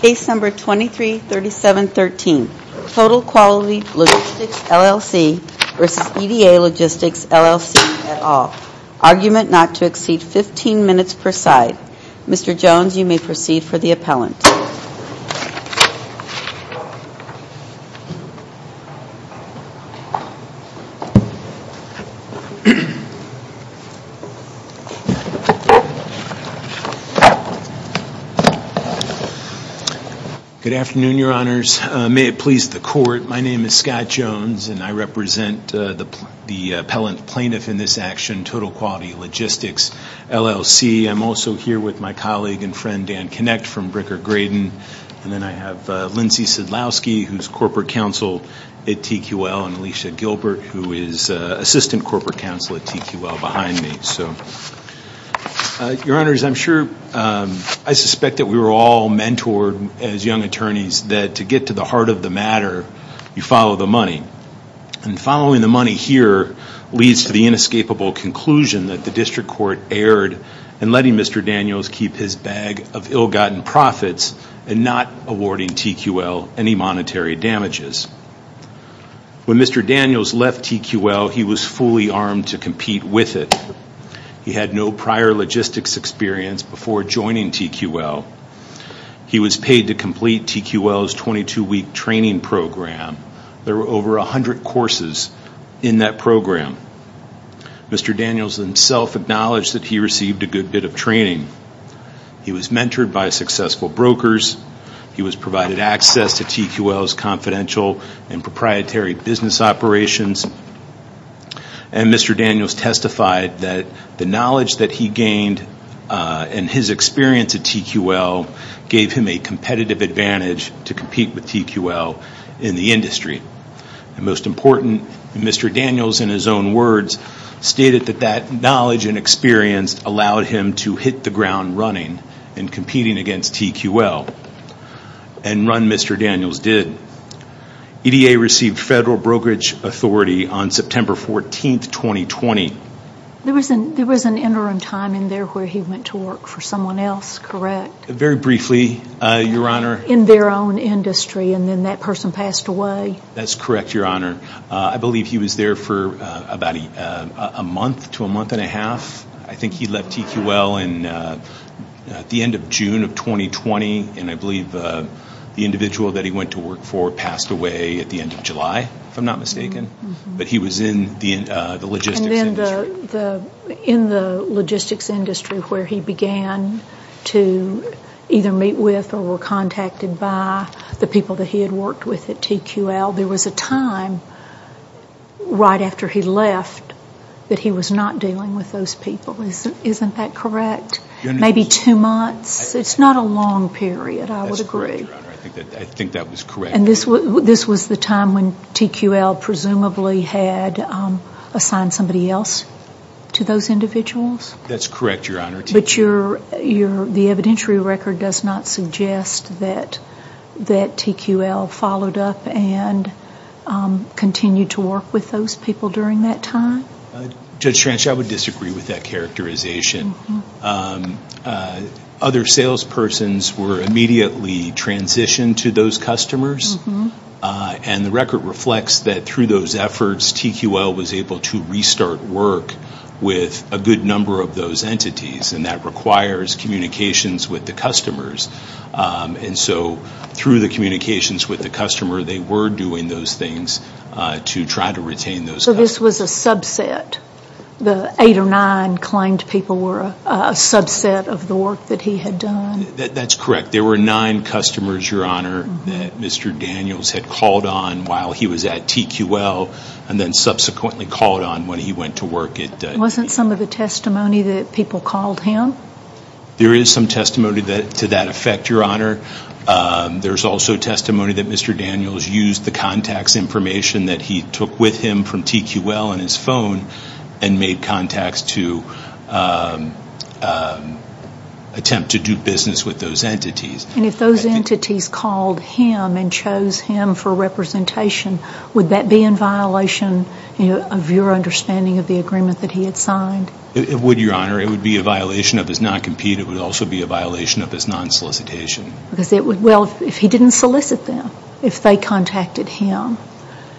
Case number 233713, Total Quality Logistics LLC v. EDA Logistics LLC et al. Argument not to exceed 15 minutes per side. Mr. Jones, you may proceed for the appellant. Good afternoon, Your Honors. May it please the Court. My name is Scott Jones, and I represent the appellant plaintiff in this action, Total Quality Logistics LLC. I'm also here with my colleague and friend, Dan Kinect, from Bricker-Graydon. And then I have Lindsey Sadlowski, who is Corporate Counsel at TQL, and Alicia Gilbert, who is Assistant Corporate Counsel at TQL, behind me. Your Honors, I suspect that we were all mentored as young attorneys that to get to the heart of the matter, you follow the money. And following the money here leads to the inescapable conclusion that the District Court erred in letting Mr. Daniels keep his bag of ill-gotten profits and not awarding TQL any monetary damages. When Mr. Daniels left TQL, he was fully armed to compete with it. He had no prior logistics experience before joining TQL. He was paid to complete TQL's 22-week training program. There were over 100 courses in that program. Mr. Daniels himself acknowledged that he received a good bit of training. He was mentored by successful brokers. He was provided access to TQL's confidential and proprietary business operations. And Mr. Daniels testified that the knowledge that he gained and his experience at TQL gave him a competitive advantage to compete with TQL in the industry. And most important, Mr. Daniels, in his own words, stated that that knowledge and experience allowed him to hit the ground running in competing against TQL. And run Mr. Daniels did. EDA received federal brokerage authority on September 14, 2020. There was an interim time in there where he went to work for someone else, correct? Very briefly, Your Honor. In their own industry, and then that person passed away? That's correct, Your Honor. I believe he was there for about a month to a month and a half. I think he left TQL at the end of June of 2020. And I believe the individual that he went to work for passed away at the end of July, if I'm not mistaken. But he was in the logistics industry. And then in the logistics industry where he began to either meet with or were contacted by the people that he had worked with at TQL, there was a time right after he left that he was not dealing with those people. Isn't that correct? Maybe two months. It's not a long period, I would agree. That's correct, Your Honor. I think that was correct. And this was the time when TQL presumably had assigned somebody else to those individuals? That's correct, Your Honor. But the evidentiary record does not suggest that TQL followed up and continued to work with those people during that time? Judge Schranch, I would disagree with that characterization. Other salespersons were immediately transitioned to those customers. And the record reflects that through those efforts, TQL was able to restart work with a good number of those entities. And that requires communications with the customers. And so through the communications with the customer, they were doing those things to try to retain those guys. So this was a subset? The eight or nine claimed people were a subset of the work that he had done? That's correct. There were nine customers, Your Honor, that Mr. Daniels had called on while he was at TQL. And then subsequently called on when he went to work at TQL. Wasn't some of the testimony that people called him? There is some testimony to that effect, Your Honor. There's also testimony that Mr. Daniels used the contacts information that he took with him from TQL on his phone and made contacts to attempt to do business with those entities. And if those entities called him and chose him for representation, would that be in violation of your understanding of the agreement that he had signed? It would, Your Honor. It would be a violation of his non-compete. It would also be a violation of his non-solicitation. Well, if he didn't solicit them, if they contacted him,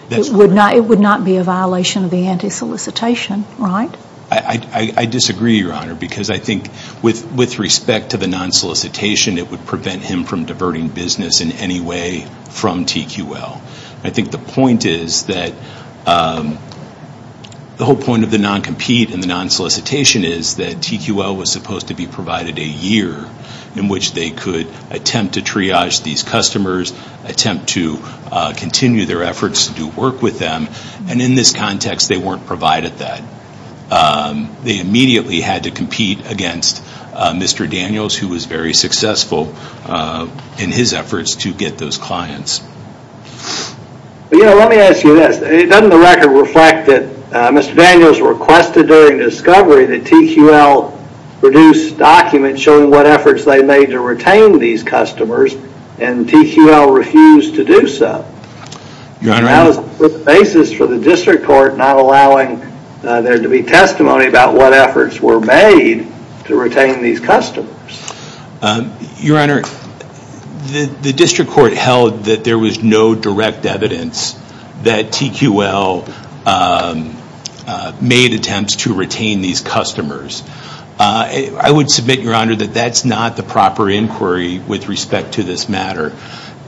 it would not be a violation of the anti-solicitation, right? I disagree, Your Honor, because I think with respect to the non-solicitation, it would prevent him from diverting business in any way from TQL. I think the point is that the whole point of the non-compete and the non-solicitation is that TQL was supposed to be provided a year in which they could attempt to triage these customers, attempt to continue their efforts to do work with them. And in this context, they weren't provided that. They immediately had to compete against Mr. Daniels, who was very successful in his efforts to get those clients. Let me ask you this. Doesn't the record reflect that Mr. Daniels requested during discovery that TQL produce documents showing what efforts they made to retain these customers, and TQL refused to do so? That was the basis for the district court not allowing there to be testimony about what efforts were made to retain these customers. Your Honor, the district court held that there was no direct evidence that TQL made attempts to retain these customers. I would submit, Your Honor, that that's not the proper inquiry with respect to this matter.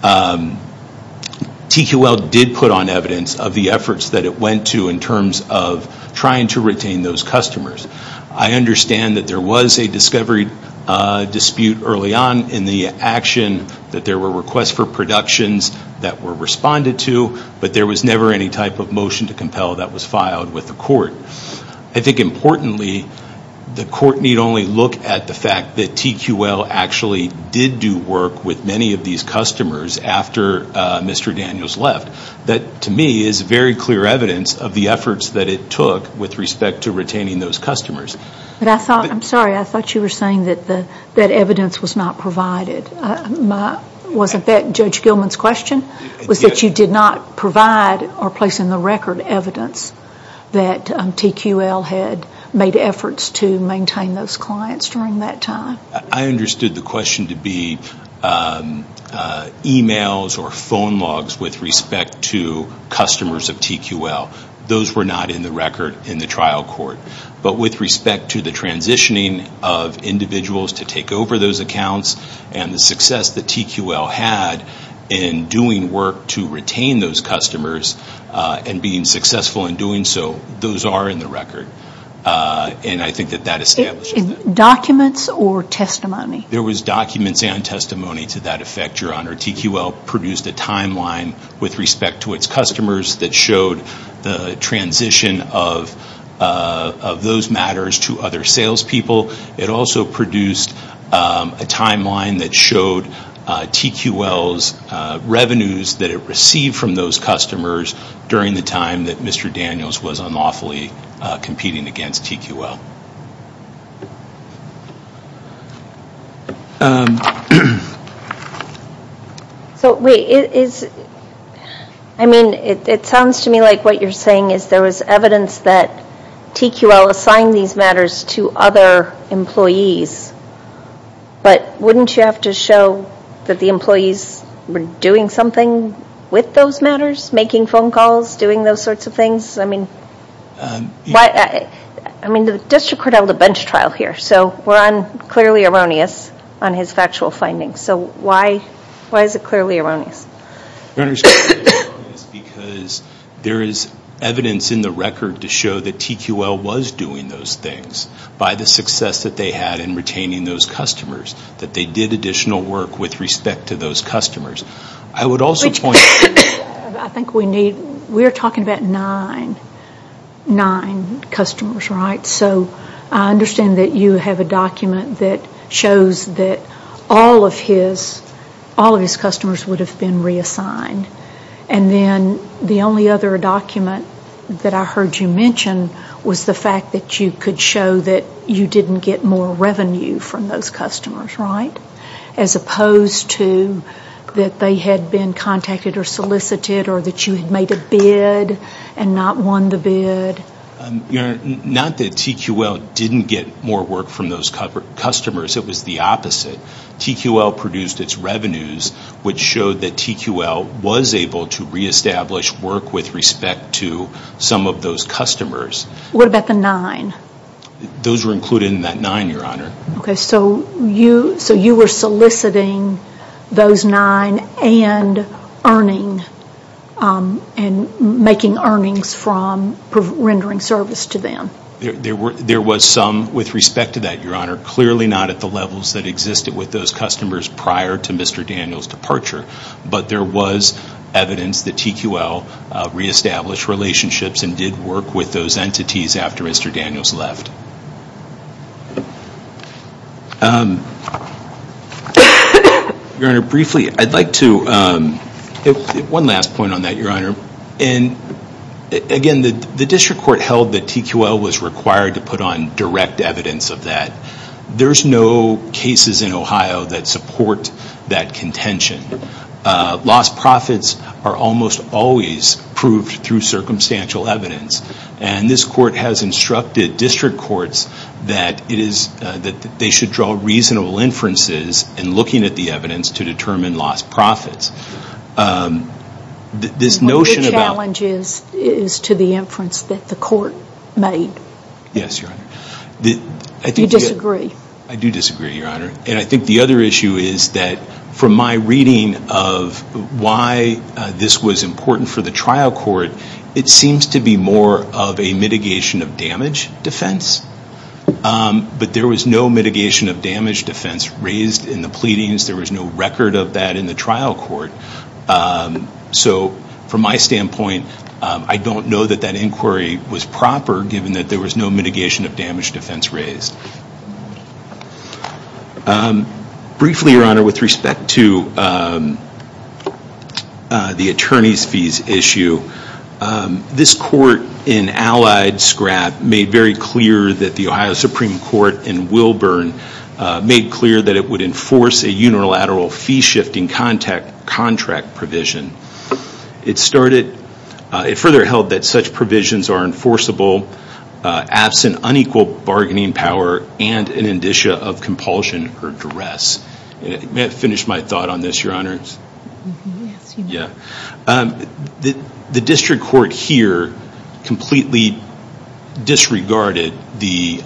TQL did put on evidence of the efforts that it went to in terms of trying to retain those customers. I understand that there was a discovery dispute early on in the action, that there were requests for productions that were responded to, but there was never any type of motion to compel that was filed with the court. I think importantly, the court need only look at the fact that TQL actually did do work with many of these customers after Mr. Daniels left. That, to me, is very clear evidence of the efforts that it took with respect to retaining those customers. I'm sorry. I thought you were saying that evidence was not provided. Wasn't that Judge Gilman's question, was that you did not provide or place in the record evidence that TQL had made efforts to maintain those clients during that time? I understood the question to be emails or phone logs with respect to customers of TQL. Those were not in the record in the trial court. But with respect to the transitioning of individuals to take over those accounts and the success that TQL had in doing work to retain those customers and being successful in doing so, those are in the record. And I think that that establishes that. Documents or testimony? There was documents and testimony to that effect, Your Honor. TQL produced a timeline with respect to its customers that showed the transition of those matters to other salespeople. It also produced a timeline that showed TQL's revenues that it received from those customers during the time that Mr. Daniels was unlawfully competing against TQL. It sounds to me like what you're saying is there was evidence that TQL assigned these matters to other employees. But wouldn't you have to show that the employees were doing something with those matters, making phone calls, doing those sorts of things? I mean, the district court held a bench trial here, so we're on clearly erroneous on his factual findings. So why is it clearly erroneous? Your Honor, it's clearly erroneous because there is evidence in the record to show that TQL was doing those things by the success that they had in retaining those customers, that they did additional work with respect to those customers. I would also point... I think we need, we're talking about nine customers, right? So I understand that you have a document that shows that all of his customers would have been reassigned. And then the only other document that I heard you mention was the fact that you could show that you didn't get more revenue from those customers, right? As opposed to that they had been contacted or solicited or that you had made a bid and not won the bid. Your Honor, not that TQL didn't get more work from those customers. It was the opposite. TQL produced its revenues, which showed that TQL was able to reestablish work with respect to some of those customers. What about the nine? Those were included in that nine, Your Honor. Okay, so you were soliciting those nine and earning and making earnings from rendering service to them. There was some with respect to that, Your Honor. Clearly not at the levels that existed with those customers prior to Mr. Daniel's departure. But there was evidence that TQL reestablished relationships and did work with those entities after Mr. Daniel's left. Your Honor, briefly, I'd like to, one last point on that, Your Honor. And again, the district court held that TQL was required to put on direct evidence of that. There's no cases in Ohio that support that contention. Lost profits are almost always proved through circumstantial evidence. And this court has instructed district courts that they should draw reasonable inferences in looking at the evidence to determine lost profits. The challenge is to the inference that the court made. Yes, Your Honor. Do you disagree? I do disagree, Your Honor. And I think the other issue is that from my reading of why this was important for the trial court, it seems to be more of a mitigation of damage defense. But there was no mitigation of damage defense raised in the pleadings. There was no record of that in the trial court. So from my standpoint, I don't know that that inquiry was proper, given that there was no mitigation of damage defense raised. Briefly, Your Honor, with respect to the attorney's fees issue, this court in Allied Scrap made very clear that the Ohio Supreme Court in Wilburn made clear that it would enforce a unilateral fee-shifting contract provision. It further held that such provisions are enforceable absent unequal bargaining power and an indicia of compulsion or duress. May I finish my thought on this, Your Honors? Yes, you may. The district court here completely disregarded the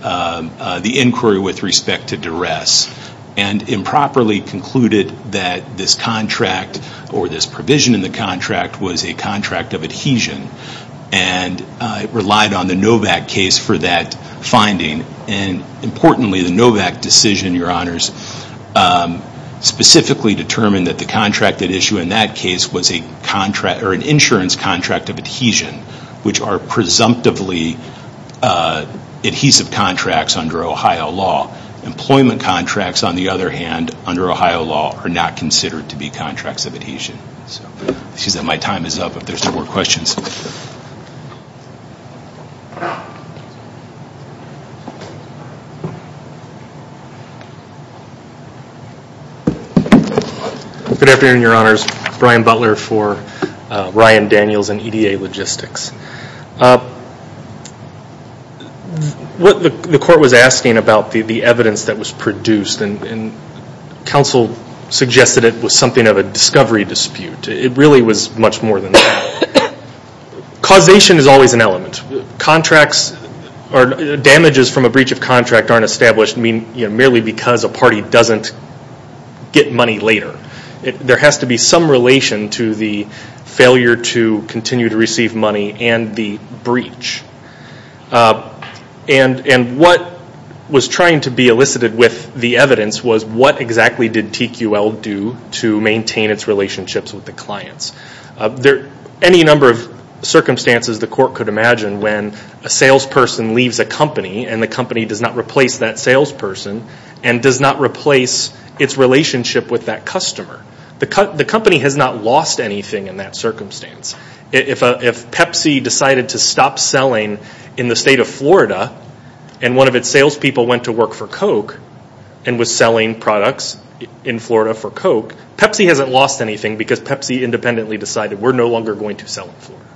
inquiry with respect to duress and improperly concluded that this contract or this provision in the contract was a contract of adhesion. And it relied on the Novak case for that finding. And importantly, the Novak decision, Your Honors, specifically determined that the contract at issue in that case was an insurance contract of adhesion, which are presumptively adhesive contracts under Ohio law. Employment contracts, on the other hand, under Ohio law, are not considered to be contracts of adhesion. It seems that my time is up if there's no more questions. Good afternoon, Your Honors. Brian Butler for Ryan Daniels and EDA Logistics. The court was asking about the evidence that was produced, and counsel suggested it was something of a discovery dispute. It really was much more than that. Causation is always an element. Damages from a breach of contract aren't established merely because a party doesn't get money later. There has to be some relation to the failure to continue to receive money and the breach. And what was trying to be elicited with the evidence was, what exactly did TQL do to maintain its relationships with the clients? Any number of circumstances the court could imagine when a salesperson leaves a company and the company does not replace that salesperson and does not replace its relationship with that customer. The company has not lost anything in that circumstance. If Pepsi decided to stop selling in the state of Florida and one of its salespeople went to work for Coke and was selling products in Florida for Coke, Pepsi hasn't lost anything because Pepsi independently decided, we're no longer going to sell in Florida.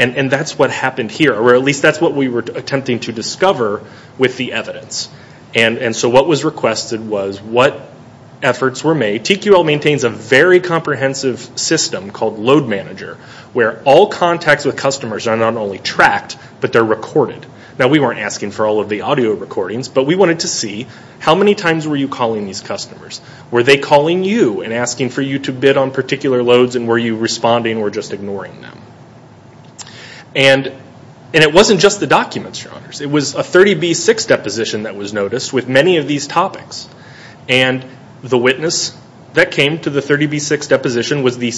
And that's what happened here, or at least that's what we were attempting to discover with the evidence. And so what was requested was what efforts were made. TQL maintains a very comprehensive system called Load Manager where all contacts with customers are not only tracked, but they're recorded. Now we weren't asking for all of the audio recordings, but we wanted to see how many times were you calling these customers? Were they calling you and asking for you to bid on particular loads and were you responding or just ignoring them? And it wasn't just the documents, Your Honors. It was a 30B6 deposition that was noticed with many of these topics. And the witness that came to the 30B6 deposition was the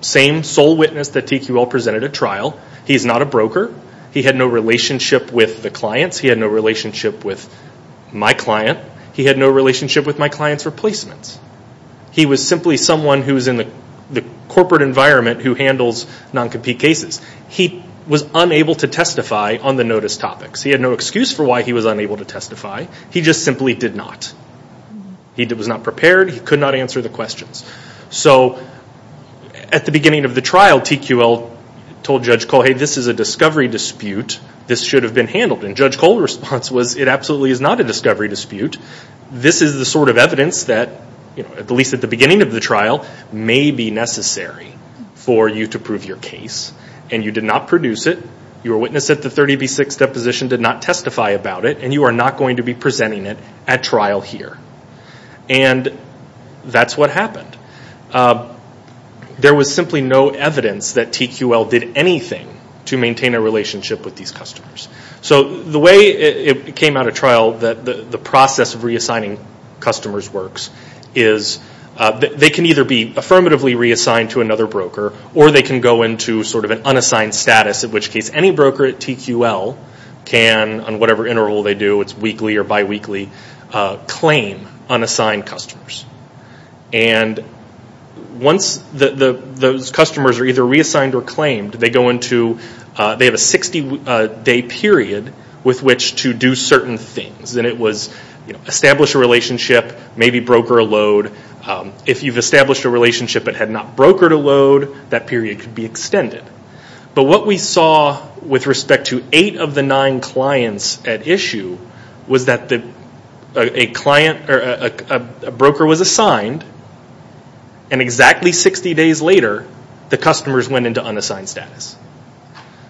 same sole witness that TQL presented at trial. He's not a broker. He had no relationship with the clients. He had no relationship with my client. He had no relationship with my client's replacements. He was simply someone who's in the corporate environment who handles non-compete cases. He was unable to testify on the notice topics. He had no excuse for why he was unable to testify. He just simply did not. He was not prepared. He could not answer the questions. So at the beginning of the trial, TQL told Judge Cole, hey, this is a discovery dispute. This should have been handled. And Judge Cole's response was, it absolutely is not a discovery dispute. This is the sort of evidence that, at least at the beginning of the trial, may be necessary for you to prove your case. And you did not produce it. Your witness at the 30B6 deposition did not testify about it. And you are not going to be presenting it at trial here. And that's what happened. There was simply no evidence that TQL did anything to maintain a relationship with these customers. So the way it came out of trial, the process of reassigning customers works, is they can either be affirmatively reassigned to another broker, or they can go into sort of an unassigned status, in which case any broker at TQL can, on whatever interval they do, it's weekly or biweekly, claim unassigned customers. And once those customers are either reassigned or claimed, they have a 60-day period with which to do certain things. And it was establish a relationship, maybe broker a load. If you've established a relationship but had not brokered a load, that period could be extended. But what we saw with respect to eight of the nine clients at issue was that a broker was assigned, and exactly 60 days later, the customers went into unassigned status.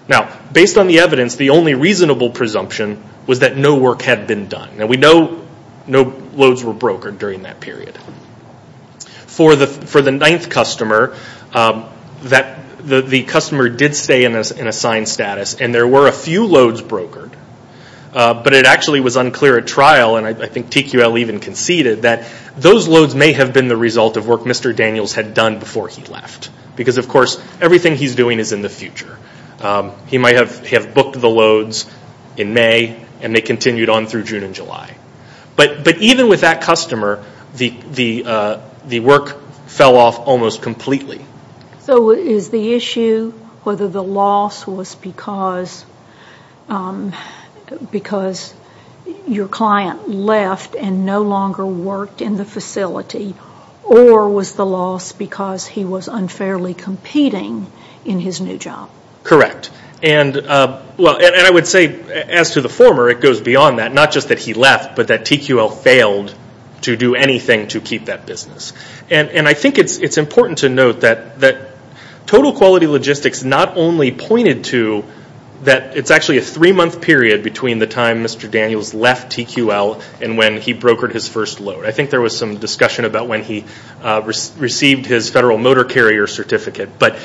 Now, based on the evidence, the only reasonable presumption was that no work had been done. And we know no loads were brokered during that period. For the ninth customer, the customer did stay in assigned status, and there were a few loads brokered. But it actually was unclear at trial, and I think TQL even conceded, that those loads may have been the result of work Mr. Daniels had done before he left. Because, of course, everything he's doing is in the future. He might have booked the loads in May, and they continued on through June and July. But even with that customer, the work fell off almost completely. So is the issue whether the loss was because your client left and no longer worked in the facility, or was the loss because he was unfairly competing in his new job? Correct. And I would say, as to the former, it goes beyond that. Not just that he left, but that TQL failed to do anything to keep that business. And I think it's important to note that Total Quality Logistics not only pointed to that it's actually a three-month period between the time Mr. Daniels left TQL and when he brokered his first load. I think there was some discussion about when he received his Federal Motor Carrier Certificate. But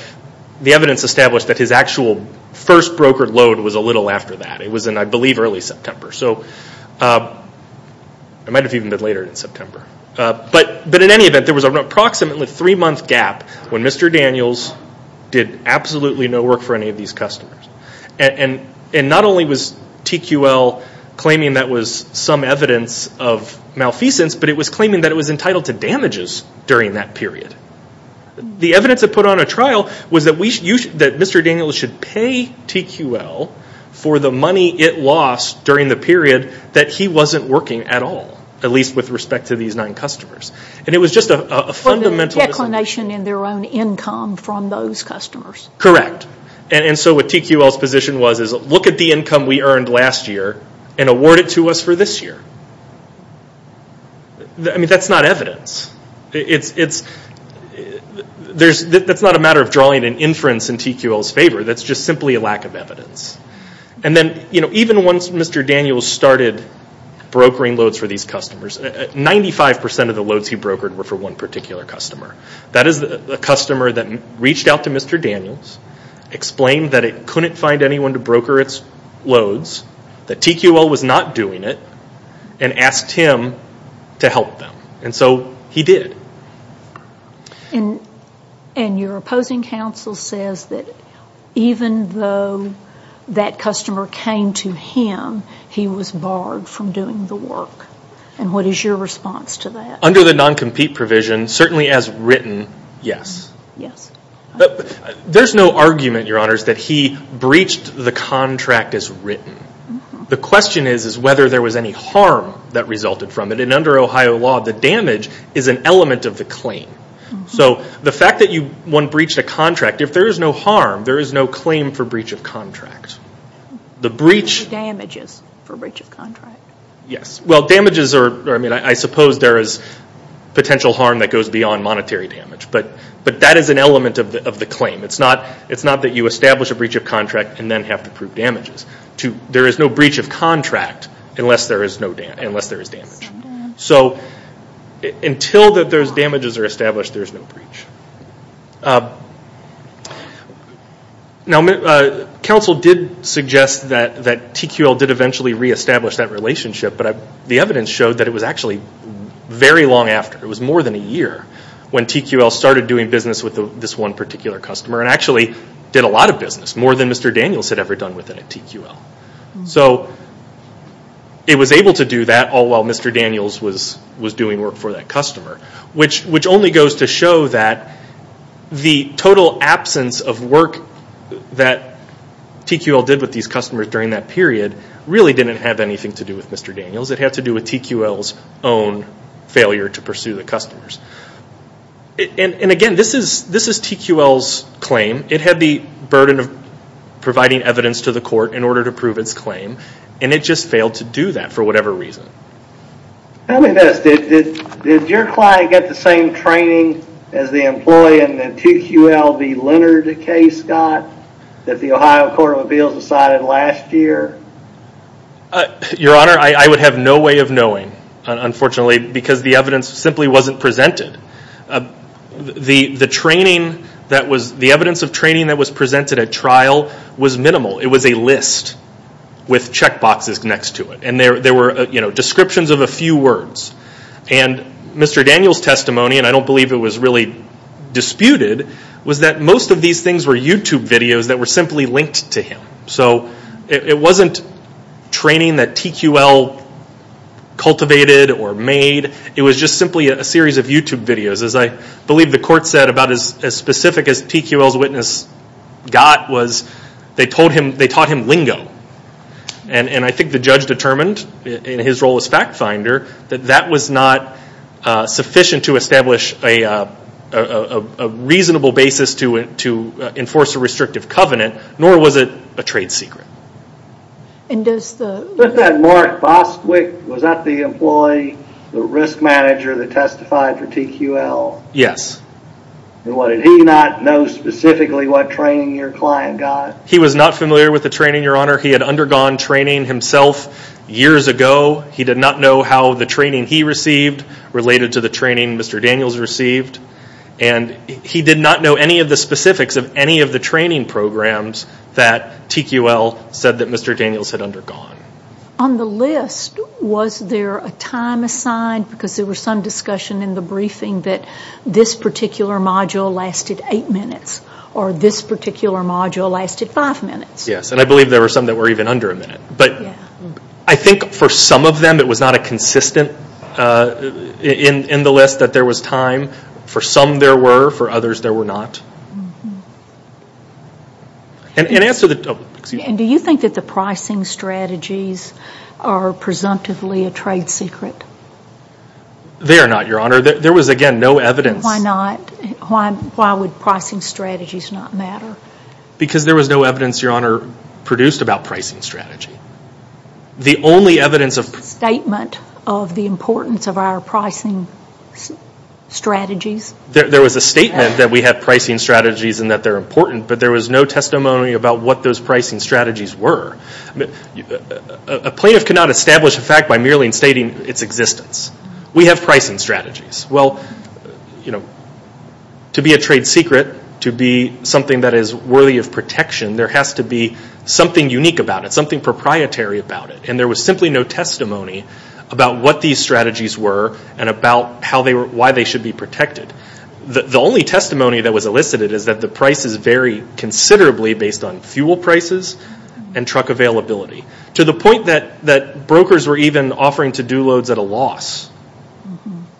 the evidence established that his actual first brokered load was a little after that. It was in, I believe, early September. It might have even been later in September. But in any event, there was an approximately three-month gap when Mr. Daniels did absolutely no work for any of these customers. And not only was TQL claiming that was some evidence of malfeasance, but it was claiming that it was entitled to damages during that period. The evidence that put on a trial was that Mr. Daniels should pay TQL for the money it lost during the period that he wasn't working at all, at least with respect to these nine customers. And it was just a fundamental... For the declination in their own income from those customers. Correct. And so what TQL's position was is look at the income we earned last year and award it to us for this year. I mean, that's not evidence. That's not a matter of drawing an inference in TQL's favor. That's just simply a lack of evidence. And then even once Mr. Daniels started brokering loads for these customers, 95% of the loads he brokered were for one particular customer. That is a customer that reached out to Mr. Daniels, explained that it couldn't find anyone to broker its loads, that TQL was not doing it, and asked him to help them. And so he did. And your opposing counsel says that even though that customer came to him, he was barred from doing the work. And what is your response to that? Under the non-compete provision, certainly as written, yes. Yes. There's no argument, Your Honors, that he breached the contract as written. The question is whether there was any harm that resulted from it. And under Ohio law, the damage is an element of the claim. So the fact that one breached a contract, if there is no harm, there is no claim for breach of contract. Damages for breach of contract. Yes. Well, damages are, I mean, I suppose there is potential harm that goes beyond monetary damage, but that is an element of the claim. It's not that you establish a breach of contract and then have to prove damages. There is no breach of contract unless there is damage. So until those damages are established, there is no breach. Now, counsel did suggest that TQL did eventually reestablish that relationship, but the evidence showed that it was actually very long after. It was more than a year when TQL started doing business with this one particular customer, and actually did a lot of business, more than Mr. Daniels had ever done with it at TQL. So it was able to do that all while Mr. Daniels was doing work for that customer, which only goes to show that the total absence of work that TQL did with these customers during that period really didn't have anything to do with Mr. Daniels. It had to do with TQL's own failure to pursue the customers. And again, this is TQL's claim. It had the burden of providing evidence to the court in order to prove its claim, and it just failed to do that for whatever reason. Tell me this. Did your client get the same training as the employee in the TQL v. Leonard case, Scott, that the Ohio Court of Appeals decided last year? Your Honor, I would have no way of knowing, unfortunately, because the evidence simply wasn't presented. The evidence of training that was presented at trial was minimal. It was a list with checkboxes next to it, and there were descriptions of a few words. And Mr. Daniels' testimony, and I don't believe it was really disputed, was that most of these things were YouTube videos that were simply linked to him. So it wasn't training that TQL cultivated or made. It was just simply a series of YouTube videos. As I believe the court said, about as specific as TQL's witness got was they taught him lingo. And I think the judge determined in his role as fact finder that that was not sufficient to establish a reasonable basis to enforce a restrictive covenant, nor was it a trade secret. Was that Mark Bosquick, was that the employee, the risk manager that testified for TQL? Yes. And did he not know specifically what training your client got? He was not familiar with the training, Your Honor. He had undergone training himself years ago. He did not know how the training he received related to the training Mr. Daniels received. And he did not know any of the specifics of any of the training programs that TQL said that Mr. Daniels had undergone. On the list, was there a time assigned? Because there was some discussion in the briefing that this particular module lasted eight minutes, or this particular module lasted five minutes. Yes, and I believe there were some that were even under a minute. I think for some of them it was not a consistent in the list that there was time. For some there were, for others there were not. And do you think that the pricing strategies are presumptively a trade secret? They are not, Your Honor. There was, again, no evidence. Why not? Why would pricing strategies not matter? Because there was no evidence, Your Honor, produced about pricing strategy. The only evidence of... Statement of the importance of our pricing strategies. There was a statement that we have pricing strategies and that they're important, but there was no testimony about what those pricing strategies were. A plaintiff cannot establish a fact by merely stating its existence. We have pricing strategies. Well, to be a trade secret, to be something that is worthy of protection, there has to be something unique about it, something proprietary about it. And there was simply no testimony about what these strategies were and about why they should be protected. The only testimony that was elicited is that the prices vary considerably based on fuel prices and truck availability. To the point that brokers were even offering to do loads at a loss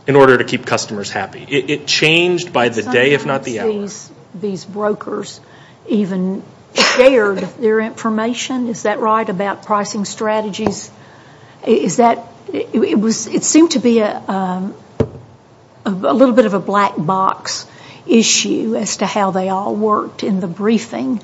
in order to keep customers happy. It changed by the day, if not the hour. Sometimes these brokers even shared their information. Is that right about pricing strategies? Is that... It seemed to be a little bit of a black box issue as to how they all worked in the briefing.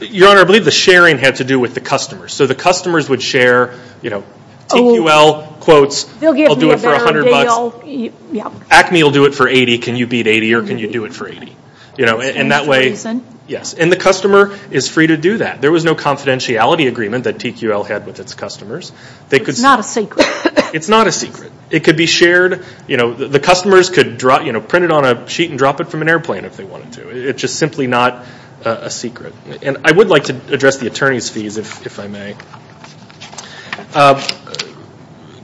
Your Honor, I believe the sharing had to do with the customers. So the customers would share, you know, TQL quotes. They'll give me a better deal. Acme will do it for $80. Can you beat $80 or can you do it for $80? And that way... For the same reason. Yes. And the customer is free to do that. There was no confidentiality agreement that TQL had with its customers. It's not a secret. It's not a secret. It could be shared. You know, the customers could print it on a sheet and drop it from an airplane if they wanted to. It's just simply not a secret. And I would like to address the attorney's fees, if I may.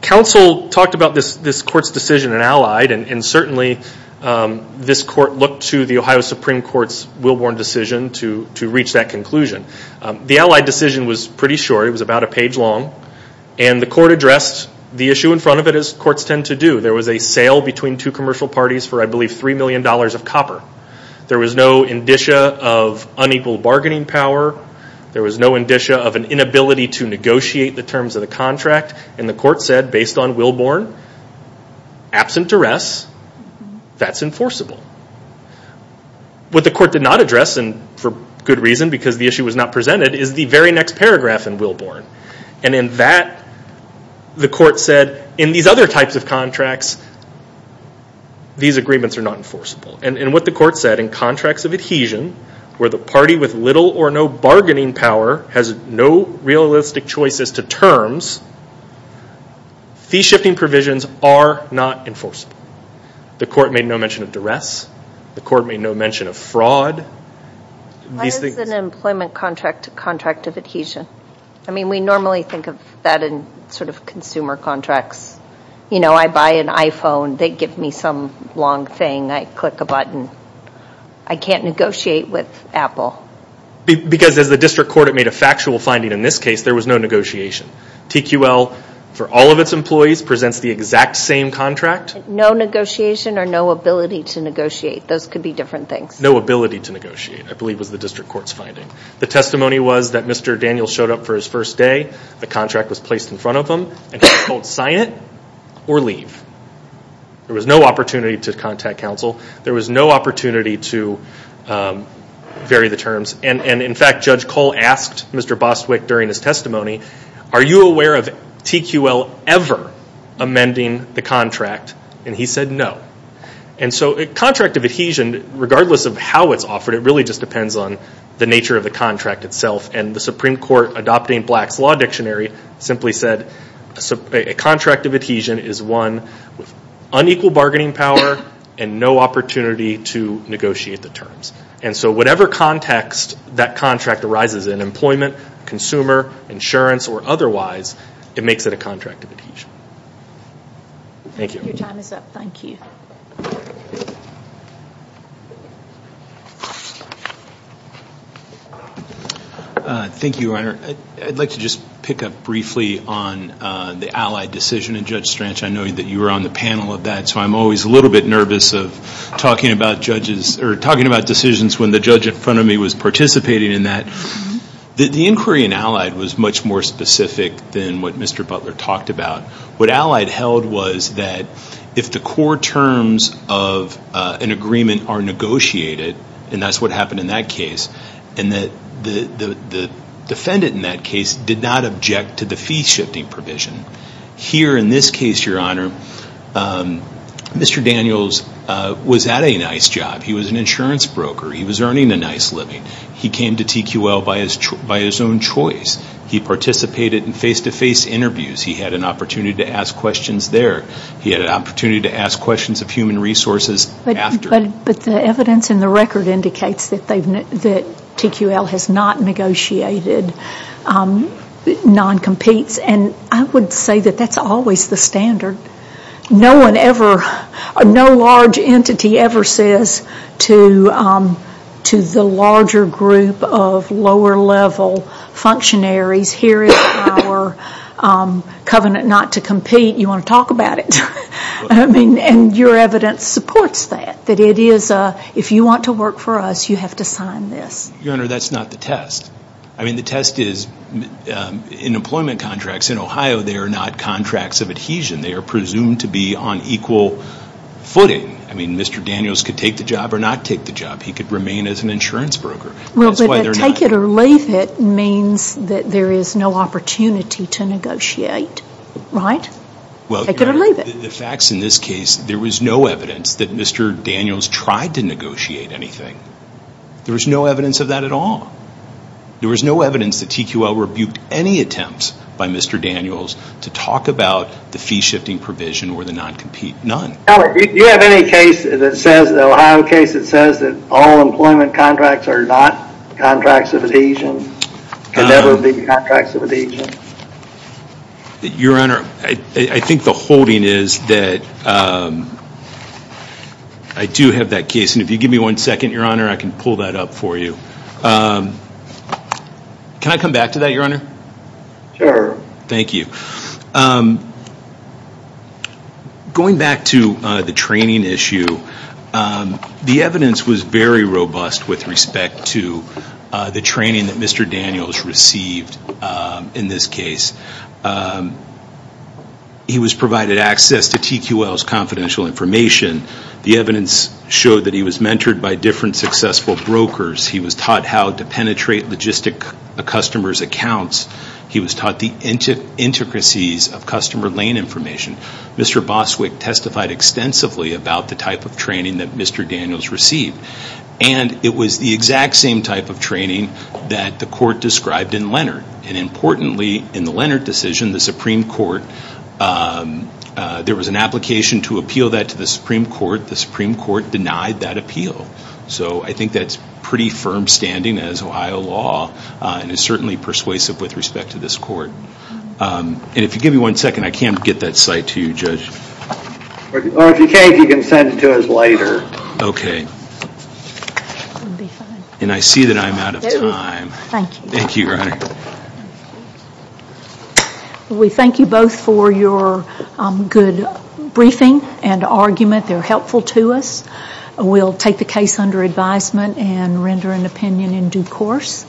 Counsel talked about this court's decision in Allied, and certainly this court looked to the Ohio Supreme Court's Wilbourn decision to reach that conclusion. The Allied decision was pretty short. It was about a page long, and the court addressed the issue in front of it as courts tend to do. There was a sale between two commercial parties for, I believe, $3 million of copper. There was no indicia of unequal bargaining power. There was no indicia of an inability to negotiate the terms of the contract. And the court said, based on Wilbourn, absent duress, that's enforceable. What the court did not address, and for good reason, because the issue was not presented, is the very next paragraph in Wilbourn. And in that, the court said, in these other types of contracts, these agreements are not enforceable. And what the court said, in contracts of adhesion, where the party with little or no bargaining power has no realistic choices to terms, fee-shifting provisions are not enforceable. The court made no mention of duress. The court made no mention of fraud. Why is an employment contract a contract of adhesion? I mean, we normally think of that in sort of consumer contracts. You know, I buy an iPhone. They give me some long thing. I click a button. I can't negotiate with Apple. Because as the district court had made a factual finding in this case, there was no negotiation. TQL, for all of its employees, presents the exact same contract. No negotiation or no ability to negotiate. Those could be different things. No ability to negotiate, I believe, was the district court's finding. The testimony was that Mr. Daniels showed up for his first day. The contract was placed in front of him, and he couldn't sign it or leave. There was no opportunity to contact counsel. There was no opportunity to vary the terms. And, in fact, Judge Cole asked Mr. Bostwick during his testimony, are you aware of TQL ever amending the contract? And he said no. And so a contract of adhesion, regardless of how it's offered, it really just depends on the nature of the contract itself. And the Supreme Court, adopting Black's Law Dictionary, simply said a contract of adhesion is one with unequal bargaining power and no opportunity to negotiate the terms. And so whatever context that contract arises in, employment, consumer, insurance, or otherwise, it makes it a contract of adhesion. Thank you. Your time is up. Thank you. Thank you, Your Honor. I'd like to just pick up briefly on the allied decision in Judge Stranch. I know that you were on the panel of that, so I'm always a little bit nervous of talking about decisions when the judge in front of me was participating in that. The inquiry in allied was much more specific than what Mr. Butler talked about. What allied held was that if the core terms of an agreement are negotiated, and that's what happened in that case, and that the defendant in that case did not object to the fee-shifting provision. Here in this case, Your Honor, Mr. Daniels was at a nice job. He was an insurance broker. He was earning a nice living. He came to TQL by his own choice. He participated in face-to-face interviews. He had an opportunity to ask questions there. He had an opportunity to ask questions of human resources after. But the evidence in the record indicates that TQL has not negotiated non-competes. I would say that that's always the standard. No large entity ever says to the larger group of lower-level functionaries, here is our covenant not to compete. You want to talk about it. Your evidence supports that, that if you want to work for us, you have to sign this. Your Honor, that's not the test. I mean, the test is in employment contracts in Ohio, they are not contracts of adhesion. They are presumed to be on equal footing. I mean, Mr. Daniels could take the job or not take the job. He could remain as an insurance broker. Well, but take it or leave it means that there is no opportunity to negotiate, right? Take it or leave it. Well, Your Honor, the facts in this case, there was no evidence that Mr. Daniels tried to negotiate anything. There was no evidence of that at all. There was no evidence that TQL rebuked any attempts by Mr. Daniels to talk about the fee-shifting provision or the non-compete, none. Now, do you have any case that says, an Ohio case that says that all employment contracts are not contracts of adhesion, can never be contracts of adhesion? Your Honor, I think the holding is that I do have that case. And if you give me one second, Your Honor, I can pull that up for you. Can I come back to that, Your Honor? Sure. Thank you. Going back to the training issue, the evidence was very robust with respect to the training that Mr. Daniels received in this case. He was provided access to TQL's confidential information. The evidence showed that he was mentored by different successful brokers. He was taught how to penetrate logistic customers' accounts. He was taught the intricacies of customer lane information. Mr. Boswick testified extensively about the type of training that Mr. Daniels received. And it was the exact same type of training that the court described in Leonard. And importantly, in the Leonard decision, the Supreme Court, there was an application to appeal that to the Supreme Court. The Supreme Court denied that appeal. So I think that's pretty firm standing as Ohio law and is certainly persuasive with respect to this court. And if you give me one second, I can get that cite to you, Judge. Or if you can't, you can send it to us later. Okay. And I see that I'm out of time. Thank you. Thank you, Your Honor. We thank you both for your good briefing and argument. They're helpful to us. We'll take the case under advisement and render an opinion in due course.